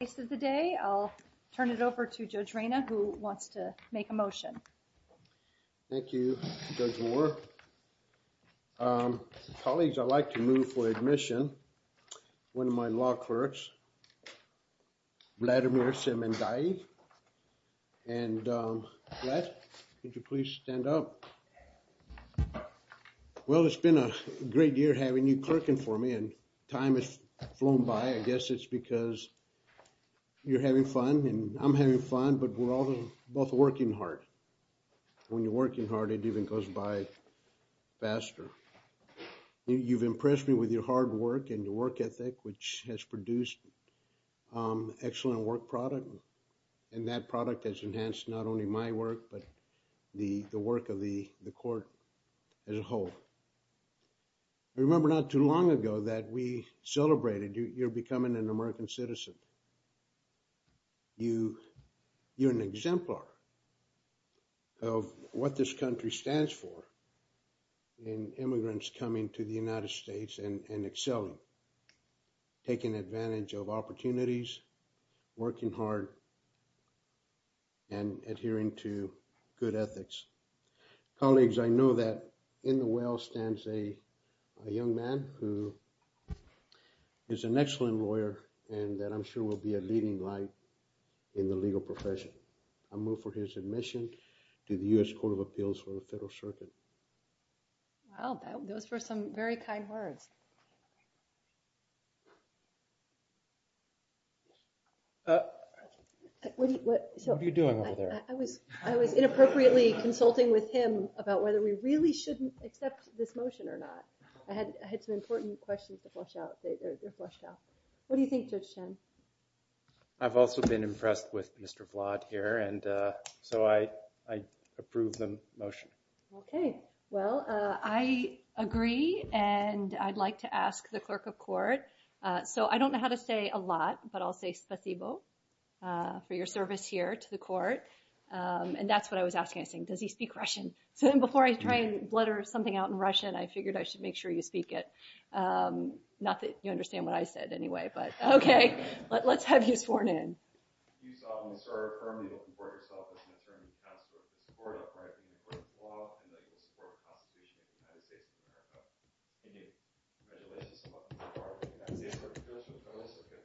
of the day, I'll turn it over to Judge Reyna who wants to make a motion. Thank you, Judge Moore. Colleagues, I'd like to move for admission one of my law clerks, Vladimir Semendaye. And Vlad, could you please stand up? Well, it's been a great year having you clerking for me and time has flown by. I guess it's because you're having fun and I'm having fun, but we're all both working hard. When you're working hard, it even goes by faster. You've impressed me with your hard work and your work ethic, which has produced excellent work product. And that product has enhanced not only my work, but the work of the court as a whole. I remember not too long ago that we celebrated, you're becoming an American citizen. You're an exemplar of what this country stands for in immigrants coming to the United States and excelling. Taking advantage of opportunities, working hard, and adhering to good ethics. Colleagues, I know that in the well stands a young man who is an excellent lawyer and that I'm sure will be a leading light in the legal profession. I move for his admission to the US Court of Appeals for the Federal Circuit. Wow, those were some very kind words. What are you doing over there? I was inappropriately consulting with him about whether we really shouldn't accept this motion or not. I had some important questions to flush out. They're flushed out. What do you think, Judge Chen? I've also been impressed with Mr. Vlaad here, and so I approve the motion. I agree, and I'd like to ask the clerk of court. I don't know how to say a lot, but I'll say spasibo for your service here to the court. That's what I was asking. I was saying, does he speak Russian? Before I try and blutter something out in Russian, I figured I should make sure you speak it. Not that you understand what I said anyway, but okay. Let's have you sworn in. You solemnly serve, firmly looking for yourself as an attorney and counselor to the Supreme Court of the United States of America. Congratulations and welcome to the United States Court of Appeals for the Federal Circuit.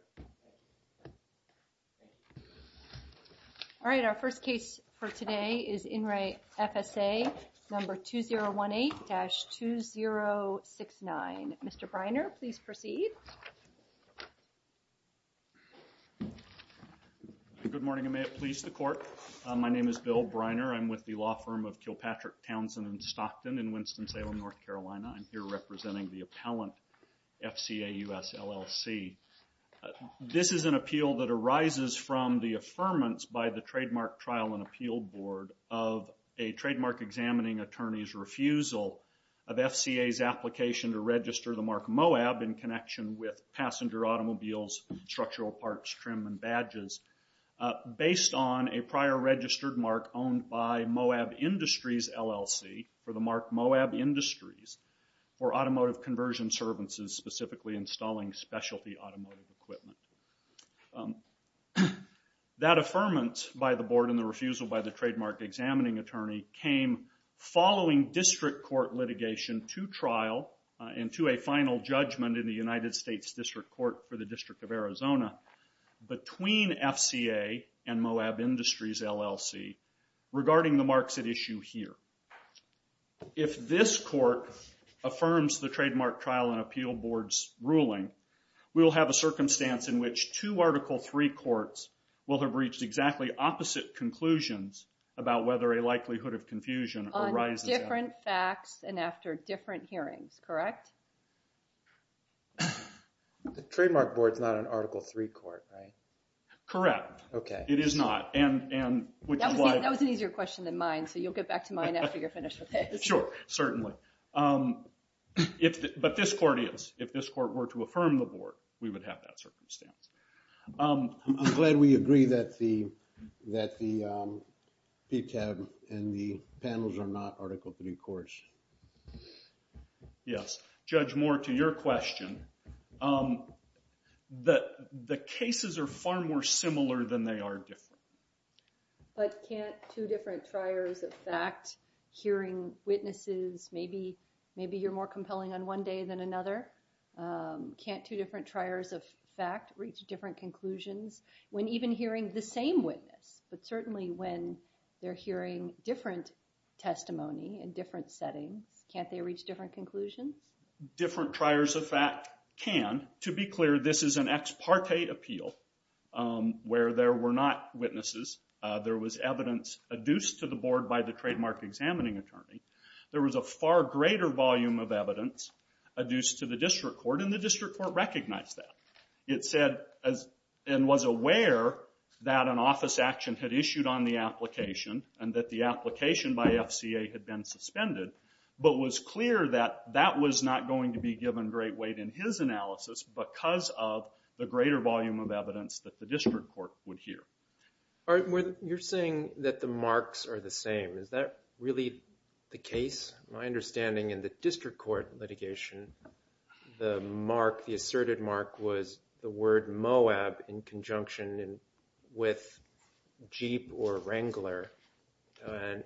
All right, our first case for today is In re FSA number 2018-2069. Mr. Briner, please proceed. Good morning, and may it please the court. My name is Bill Briner. I'm with the law firm of Kilpatrick, Townsend, and Stockton in Winston-Salem, North Carolina. I'm here representing the appellant, FCA US LLC. This is an appeal that arises from the affirmance by the Trademark Trial and Appeal Board of a trademark examining attorney's refusal of FCA's application to register the mark Moab in connection with passenger automobiles, structural parts, trim, and badges based on a prior registered mark owned by Moab Industries LLC for the mark Moab Industries for automotive conversion services, specifically installing specialty automotive equipment. That affirmance by the board and the refusal by the trademark examining attorney came following district court litigation to trial and to a final judgment in the United States District Court for the District of Arizona between FCA and Moab Industries LLC regarding the marks at issue here. If this court affirms the Trademark Trial and Appeal Board's ruling, we will have a circumstance in which two Article III courts will have reached exactly opposite conclusions about whether a likelihood of confusion arises. On different facts and after different hearings, correct? The Trademark Board's not an Article III court, right? Correct. Okay. It is not. That was an easier question than mine, so you'll get back to mine after you're finished with this. Sure, certainly. But this court is. If this court were to affirm the board, we would have that circumstance. I'm glad we agree that the PTAB and the panels are not Article III courts. Yes. Judge Moore, to your question, the cases are far more similar than they are different. But can't two different triers of fact hearing witnesses, maybe you're more compelling on one day than another? Can't two different triers of fact reach different conclusions when even hearing the same witness? But certainly when they're hearing different testimony in different settings, can't they reach different conclusions? Different triers of fact can. To be clear, this is an ex parte appeal where there were not witnesses. There was evidence adduced to the board by the trademark examining attorney. There was a far greater volume of evidence adduced to the district court, and the district court recognized that. It said and was aware that an office action had issued on the application and that the application by FCA had been suspended, but was clear that that was not going to be given great weight in his analysis because of the greater volume of evidence that the district court would hear. You're saying that the marks are the same. Is that really the case? My understanding in the district court litigation, the asserted mark was the word Moab in conjunction with Jeep or Wrangler.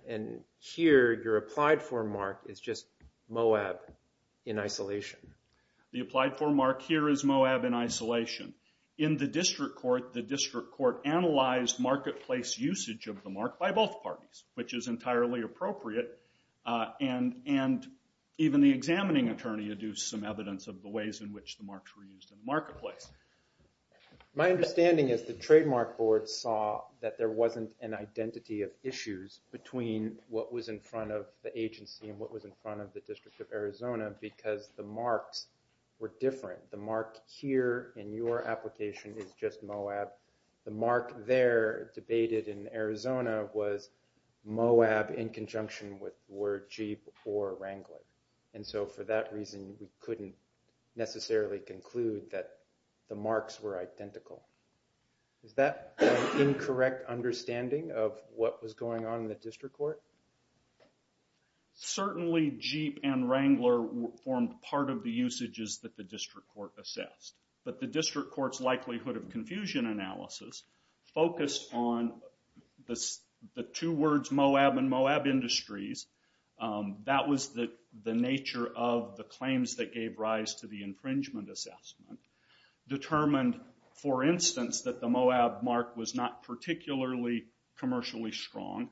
And here, your applied for mark is just Moab in isolation. The applied for mark here is Moab in isolation. In the district court, the district court analyzed marketplace usage of the mark by both parties, which is entirely appropriate. And even the examining attorney had used some evidence of the ways in which the marks were used in the marketplace. My understanding is the trademark board saw that there wasn't an identity of issues between what was in front of the agency and what was in front of the District of Arizona because the marks were different. The mark here in your application is just Moab. The mark there debated in Arizona was Moab in conjunction with the word Jeep or Wrangler. And so for that reason, we couldn't necessarily conclude that the marks were identical. Is that an incorrect understanding of what was going on in the district court? Certainly Jeep and Wrangler formed part of the usages that the district court assessed. But the district court's likelihood of confusion analysis focused on the two words Moab and Moab Industries. That was the nature of the claims that gave rise to the infringement assessment. Determined, for instance, that the Moab mark was not particularly commercially strong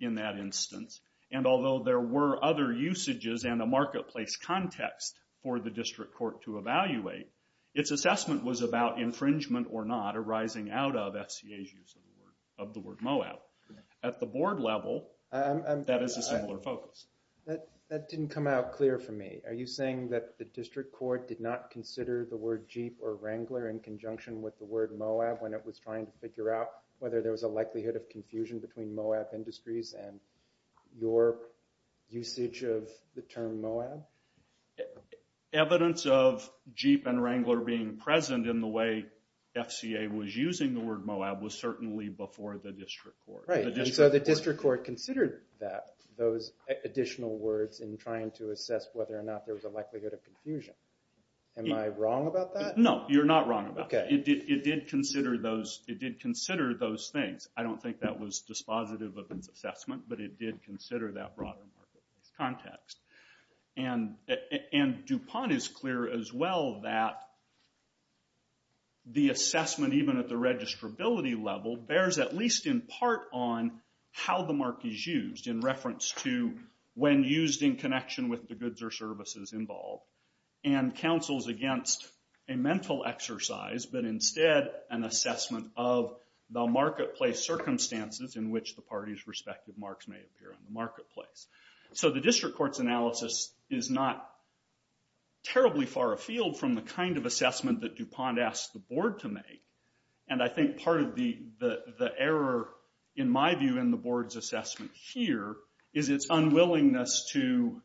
in that instance. And although there were other usages and a marketplace context for the district court to evaluate, its assessment was about infringement or not arising out of FCA's use of the word Moab. At the board level, that is a similar focus. That didn't come out clear for me. Are you saying that the district court did not consider the word Jeep or Wrangler in conjunction with the word Moab when it was trying to figure out whether there was a likelihood of confusion between Moab Industries and your usage of the term Moab? Evidence of Jeep and Wrangler being present in the way FCA was using the word Moab was certainly before the district court. Right, and so the district court considered those additional words in trying to assess whether or not there was a likelihood of confusion. Am I wrong about that? No, you're not wrong about that. It did consider those things. I don't think that was dispositive of its assessment, but it did consider that broader context. And DuPont is clear as well that the assessment, even at the registrability level, bears at least in part on how the mark is used in reference to when used in connection with the goods or services involved. And counsels against a mental exercise, but instead an assessment of the marketplace circumstances in which the parties' respective marks may appear in the marketplace. So the district court's analysis is not terribly far afield from the kind of assessment that DuPont asked the board to make. And I think part of the error, in my view, in the board's assessment here is its unwillingness to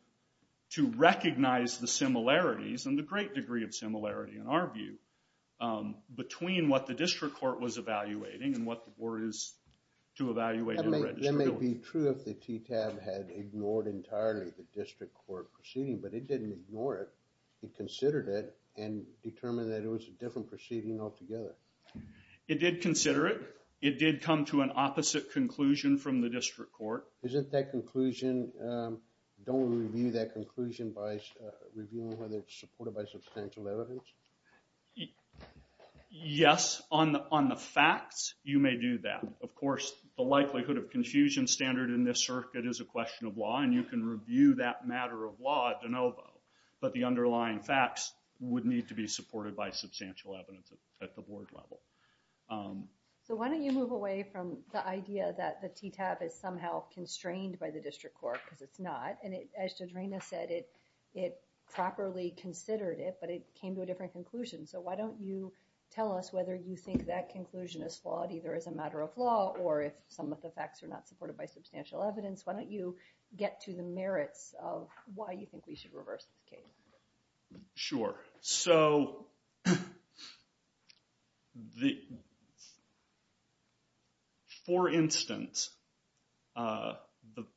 recognize the similarities, and the great degree of similarity in our view, between what the district court was evaluating and what the board is to evaluate in registrability. It would be true if the TTAB had ignored entirely the district court proceeding, but it didn't ignore it. It considered it and determined that it was a different proceeding altogether. It did consider it. It did come to an opposite conclusion from the district court. Isn't that conclusion, don't we review that conclusion by reviewing whether it's supported by substantial evidence? Yes, on the facts, you may do that. Of course, the likelihood of confusion standard in this circuit is a question of law, and you can review that matter of law de novo, but the underlying facts would need to be supported by substantial evidence at the board level. So why don't you move away from the idea that the TTAB is somehow constrained by the district court because it's not, and as Jadrina said, it properly considered it, but it came to a different conclusion. So why don't you tell us whether you think that conclusion is flawed either as a matter of law or if some of the facts are not supported by substantial evidence. Why don't you get to the merits of why you think we should reverse this case? Sure. So, for instance,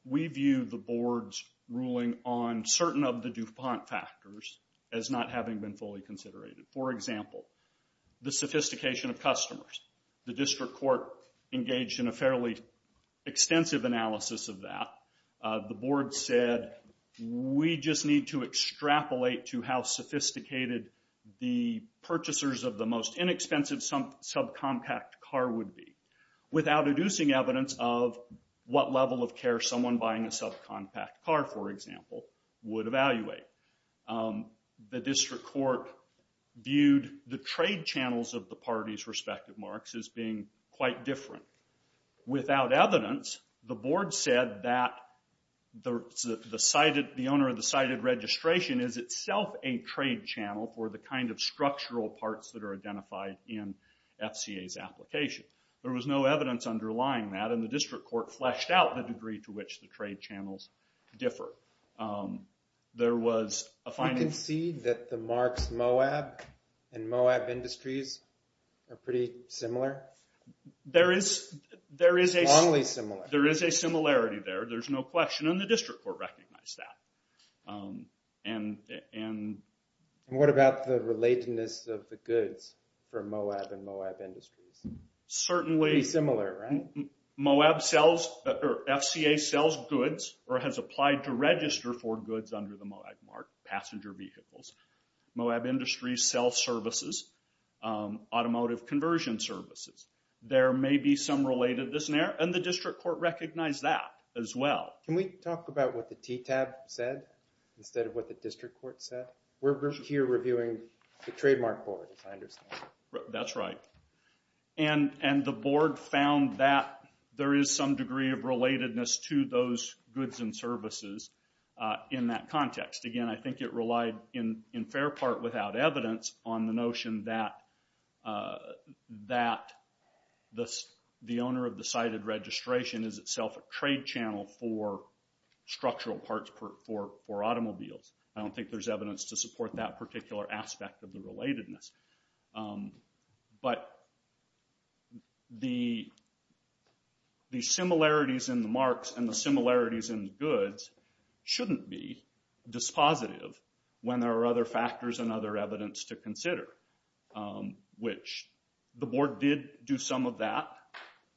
we view the board's ruling on certain of the DuPont factors as not having been fully considered. For example, the sophistication of customers. The district court engaged in a fairly extensive analysis of that. The board said, we just need to extrapolate to how sophisticated the purchasers of the most inexpensive subcompact car would be without reducing evidence of what level of care someone buying a subcompact car, for example, would evaluate. The district court viewed the trade channels of the parties' respective marks as being quite different. Without evidence, the board said that the owner of the cited registration is itself a trade channel for the kind of structural parts that are identified in FCA's application. There was no evidence underlying that, and the district court fleshed out the degree to which the trade channels differ. You concede that the marks Moab and Moab Industries are pretty similar? There is a similarity there. There's no question, and the district court recognized that. And what about the relatedness of the goods for Moab and Moab Industries? Certainly. Pretty similar, right? Moab sells, or FCA sells goods, or has applied to register for goods under the Moab mark, passenger vehicles. Moab Industries sells services, automotive conversion services. There may be some relatedness there, and the district court recognized that as well. Can we talk about what the TTAB said instead of what the district court said? We're here reviewing the trademark boards, I understand. That's right. And the board found that there is some degree of relatedness to those goods and services in that context. Again, I think it relied in fair part without evidence on the notion that the owner of the cited registration is itself a trade channel for structural parts for automobiles. I don't think there's evidence to support that particular aspect of the relatedness. But the similarities in the marks and the similarities in the goods shouldn't be dispositive when there are other factors and other evidence to consider, which the board did do some of that.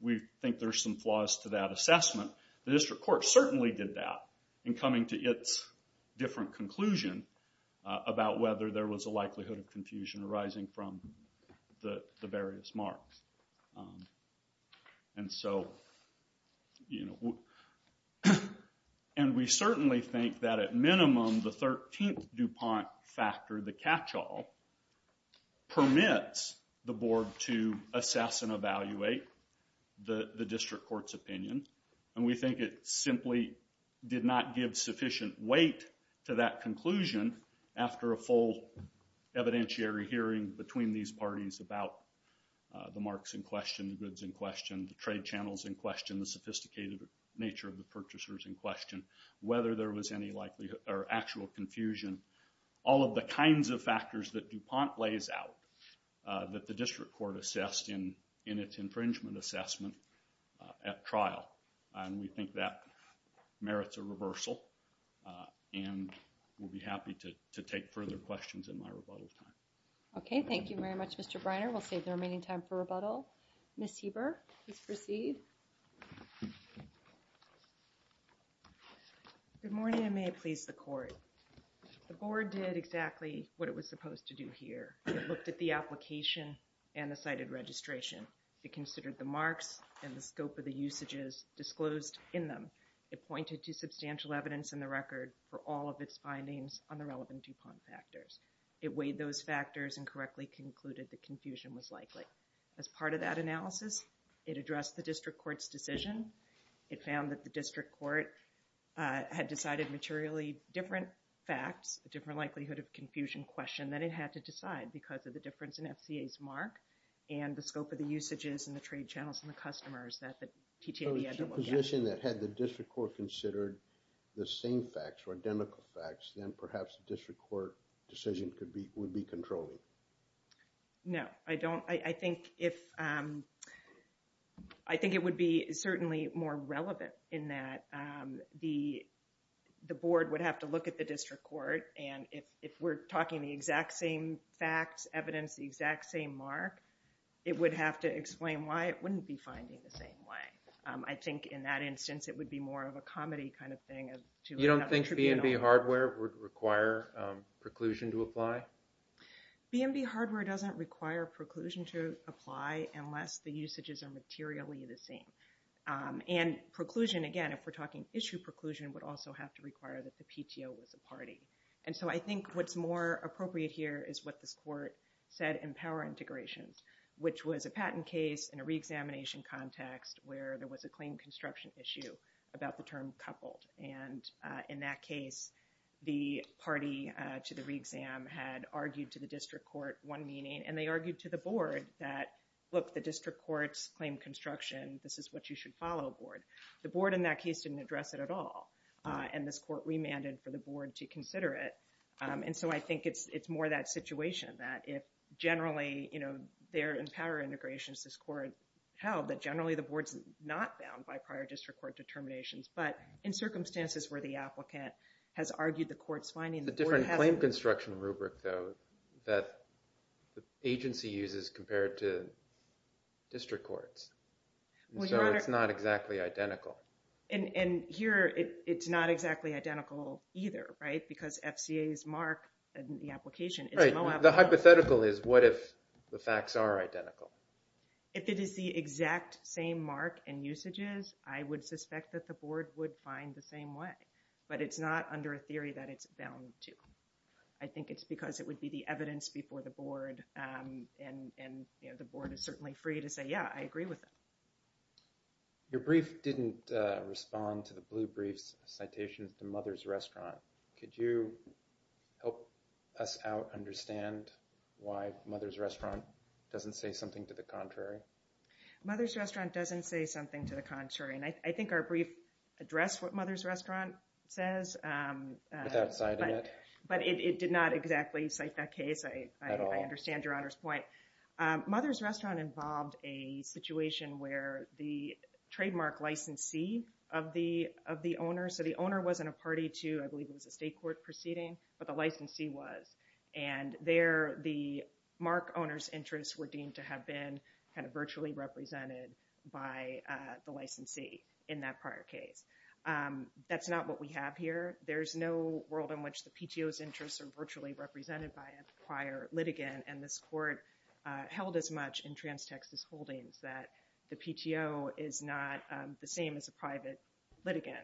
We think there's some flaws to that assessment. The district court certainly did that in coming to its different conclusion about whether there was a likelihood of confusion arising from the various marks. And we certainly think that at minimum the 13th DuPont factor, the catch-all, permits the board to assess and evaluate the district court's opinion. And we think it simply did not give sufficient weight to that conclusion after a full evidentiary hearing between these parties about the marks in question, the goods in question, the trade channels in question, the sophisticated nature of the purchasers in question, whether there was any likelihood or actual confusion. All of the kinds of factors that DuPont lays out that the district court assessed in its infringement assessment at trial. And we think that merits a reversal. And we'll be happy to take further questions in my rebuttal time. Okay, thank you very much, Mr. Briner. We'll save the remaining time for rebuttal. Ms. Heber, please proceed. Good morning, and may it please the court. The board did exactly what it was supposed to do here. It looked at the application and the cited registration. It considered the marks and the scope of the usages disclosed in them. It pointed to substantial evidence in the record for all of its findings on the relevant DuPont factors. As part of that analysis, it addressed the district court's decision. It found that the district court had decided materially different facts, a different likelihood of confusion question than it had to decide because of the difference in FCA's mark and the scope of the usages and the trade channels and the customers that the TTA had to look at. So it's a position that had the district court considered the same facts or identical facts, then perhaps the district court decision would be controlling. No, I don't. I think it would be certainly more relevant in that the board would have to look at the district court and if we're talking the exact same facts, evidence, the exact same mark, it would have to explain why it wouldn't be finding the same way. I think in that instance it would be more of a comedy kind of thing. You don't think B&B hardware would require preclusion to apply? B&B hardware doesn't require preclusion to apply unless the usages are materially the same. And preclusion, again, if we're talking issue preclusion, would also have to require that the PTO was a party. And so I think what's more appropriate here is what this court said in power integrations, which was a patent case in a reexamination context where there was a claim construction issue about the term coupled. And in that case, the party to the reexam had argued to the district court one meeting and they argued to the board that, look, the district courts claim construction. This is what you should follow, board. The board in that case didn't address it at all. And this court remanded for the board to consider it. And so I think it's more that situation that if generally there in power integrations, this court held that generally the board's not bound by prior district court determinations. But in circumstances where the applicant has argued the court's finding, the board has... It's a different claim construction rubric, though, that the agency uses compared to district courts. And so it's not exactly identical. And here it's not exactly identical either, right? Because FCA's mark in the application is no... Right. The hypothetical is what if the facts are identical? If it is the exact same mark and usages, I would suspect that the board would find the same way. But it's not under a theory that it's bound to. I think it's because it would be the evidence before the board. And the board is certainly free to say, yeah, I agree with it. Your brief didn't respond to the blue brief's citations to Mother's Restaurant. Could you help us out understand why Mother's Restaurant doesn't say something to the contrary? Mother's Restaurant doesn't say something to the contrary. And I think our brief addressed what Mother's Restaurant says. Without citing it. But it did not exactly cite that case. At all. I understand Your Honor's point. Mother's Restaurant involved a situation where the trademark licensee of the owner... I believe it was a state court proceeding, but the licensee was. And there the mark owner's interests were deemed to have been kind of virtually represented by the licensee in that prior case. That's not what we have here. There's no world in which the PTO's interests are virtually represented by a prior litigant. And this court held as much in Trans-Texas Holdings that the PTO is not the same as a private litigant.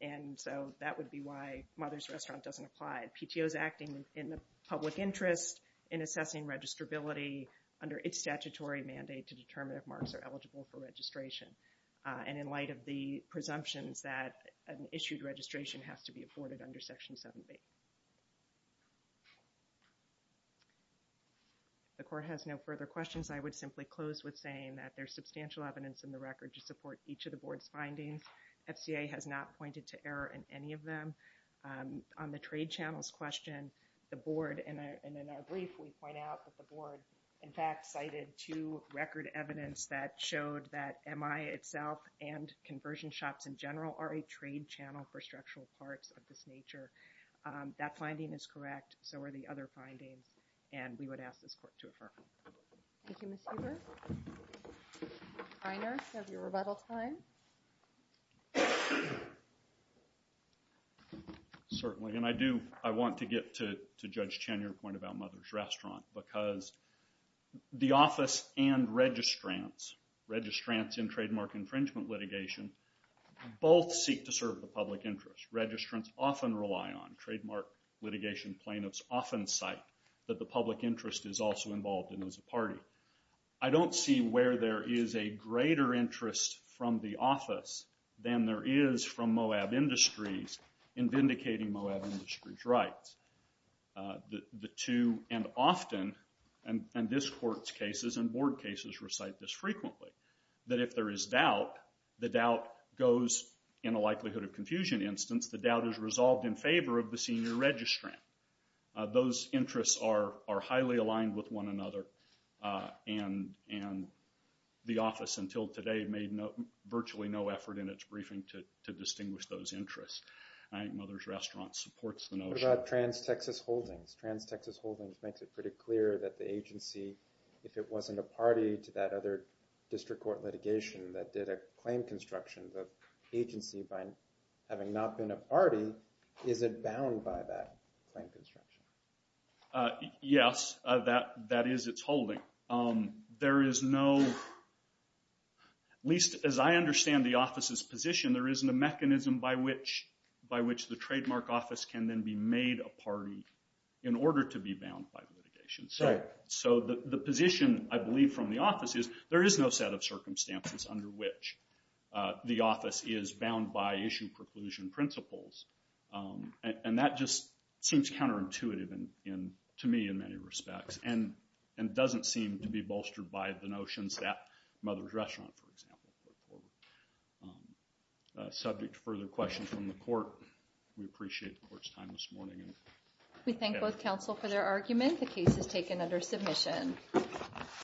And so that would be why Mother's Restaurant doesn't apply. PTO is acting in the public interest in assessing registrability under its statutory mandate to determine if marks are eligible for registration. And in light of the presumptions that an issued registration has to be afforded under Section 7B. The court has no further questions. I would simply close with saying that there's substantial evidence in the record to support each of the board's findings. FCA has not pointed to error in any of them. On the trade channels question, the board, and in our brief we point out that the board in fact cited two record evidence that showed that MI itself and conversion shops in general are a trade channel for structural parts of this nature. That finding is correct. So are the other findings. And we would ask this court to affirm. Thank you, Ms. Eber. Mr. Reiner, you have your rebuttal time. Certainly. And I do, I want to get to Judge Chen, your point about Mother's Restaurant. Because the office and registrants, registrants in trademark infringement litigation, both seek to serve the public interest. Registrants often rely on, trademark litigation plaintiffs often cite that the public interest is also involved in as a party. I don't see where there is a greater interest from the office than there is from Moab Industries in vindicating Moab Industries' rights. The two, and often, and this court's cases and board cases recite this frequently, that if there is doubt, the doubt goes in a likelihood of confusion instance. The doubt is resolved in favor of the senior registrant. Those interests are highly aligned with one another. And the office until today made virtually no effort in its briefing to distinguish those interests. I think Mother's Restaurant supports the notion. Let's talk about trans-Texas holdings. Trans-Texas holdings makes it pretty clear that the agency, if it wasn't a party to that other district court litigation that did a claim construction, the agency, having not been a party, isn't bound by that claim construction. Yes, that is its holding. There is no, at least as I understand the office's position, there isn't a mechanism by which the trademark office can then be made a party in order to be bound by litigation. So the position, I believe, from the office is there is no set of circumstances under which the office is bound by issue preclusion principles. And that just seems counterintuitive to me in many respects. And doesn't seem to be bolstered by the notions that Mother's Restaurant, for example, put forward. Subject to further questions from the court, we appreciate the court's time this morning. We thank both counsel for their argument. The case is taken under submission.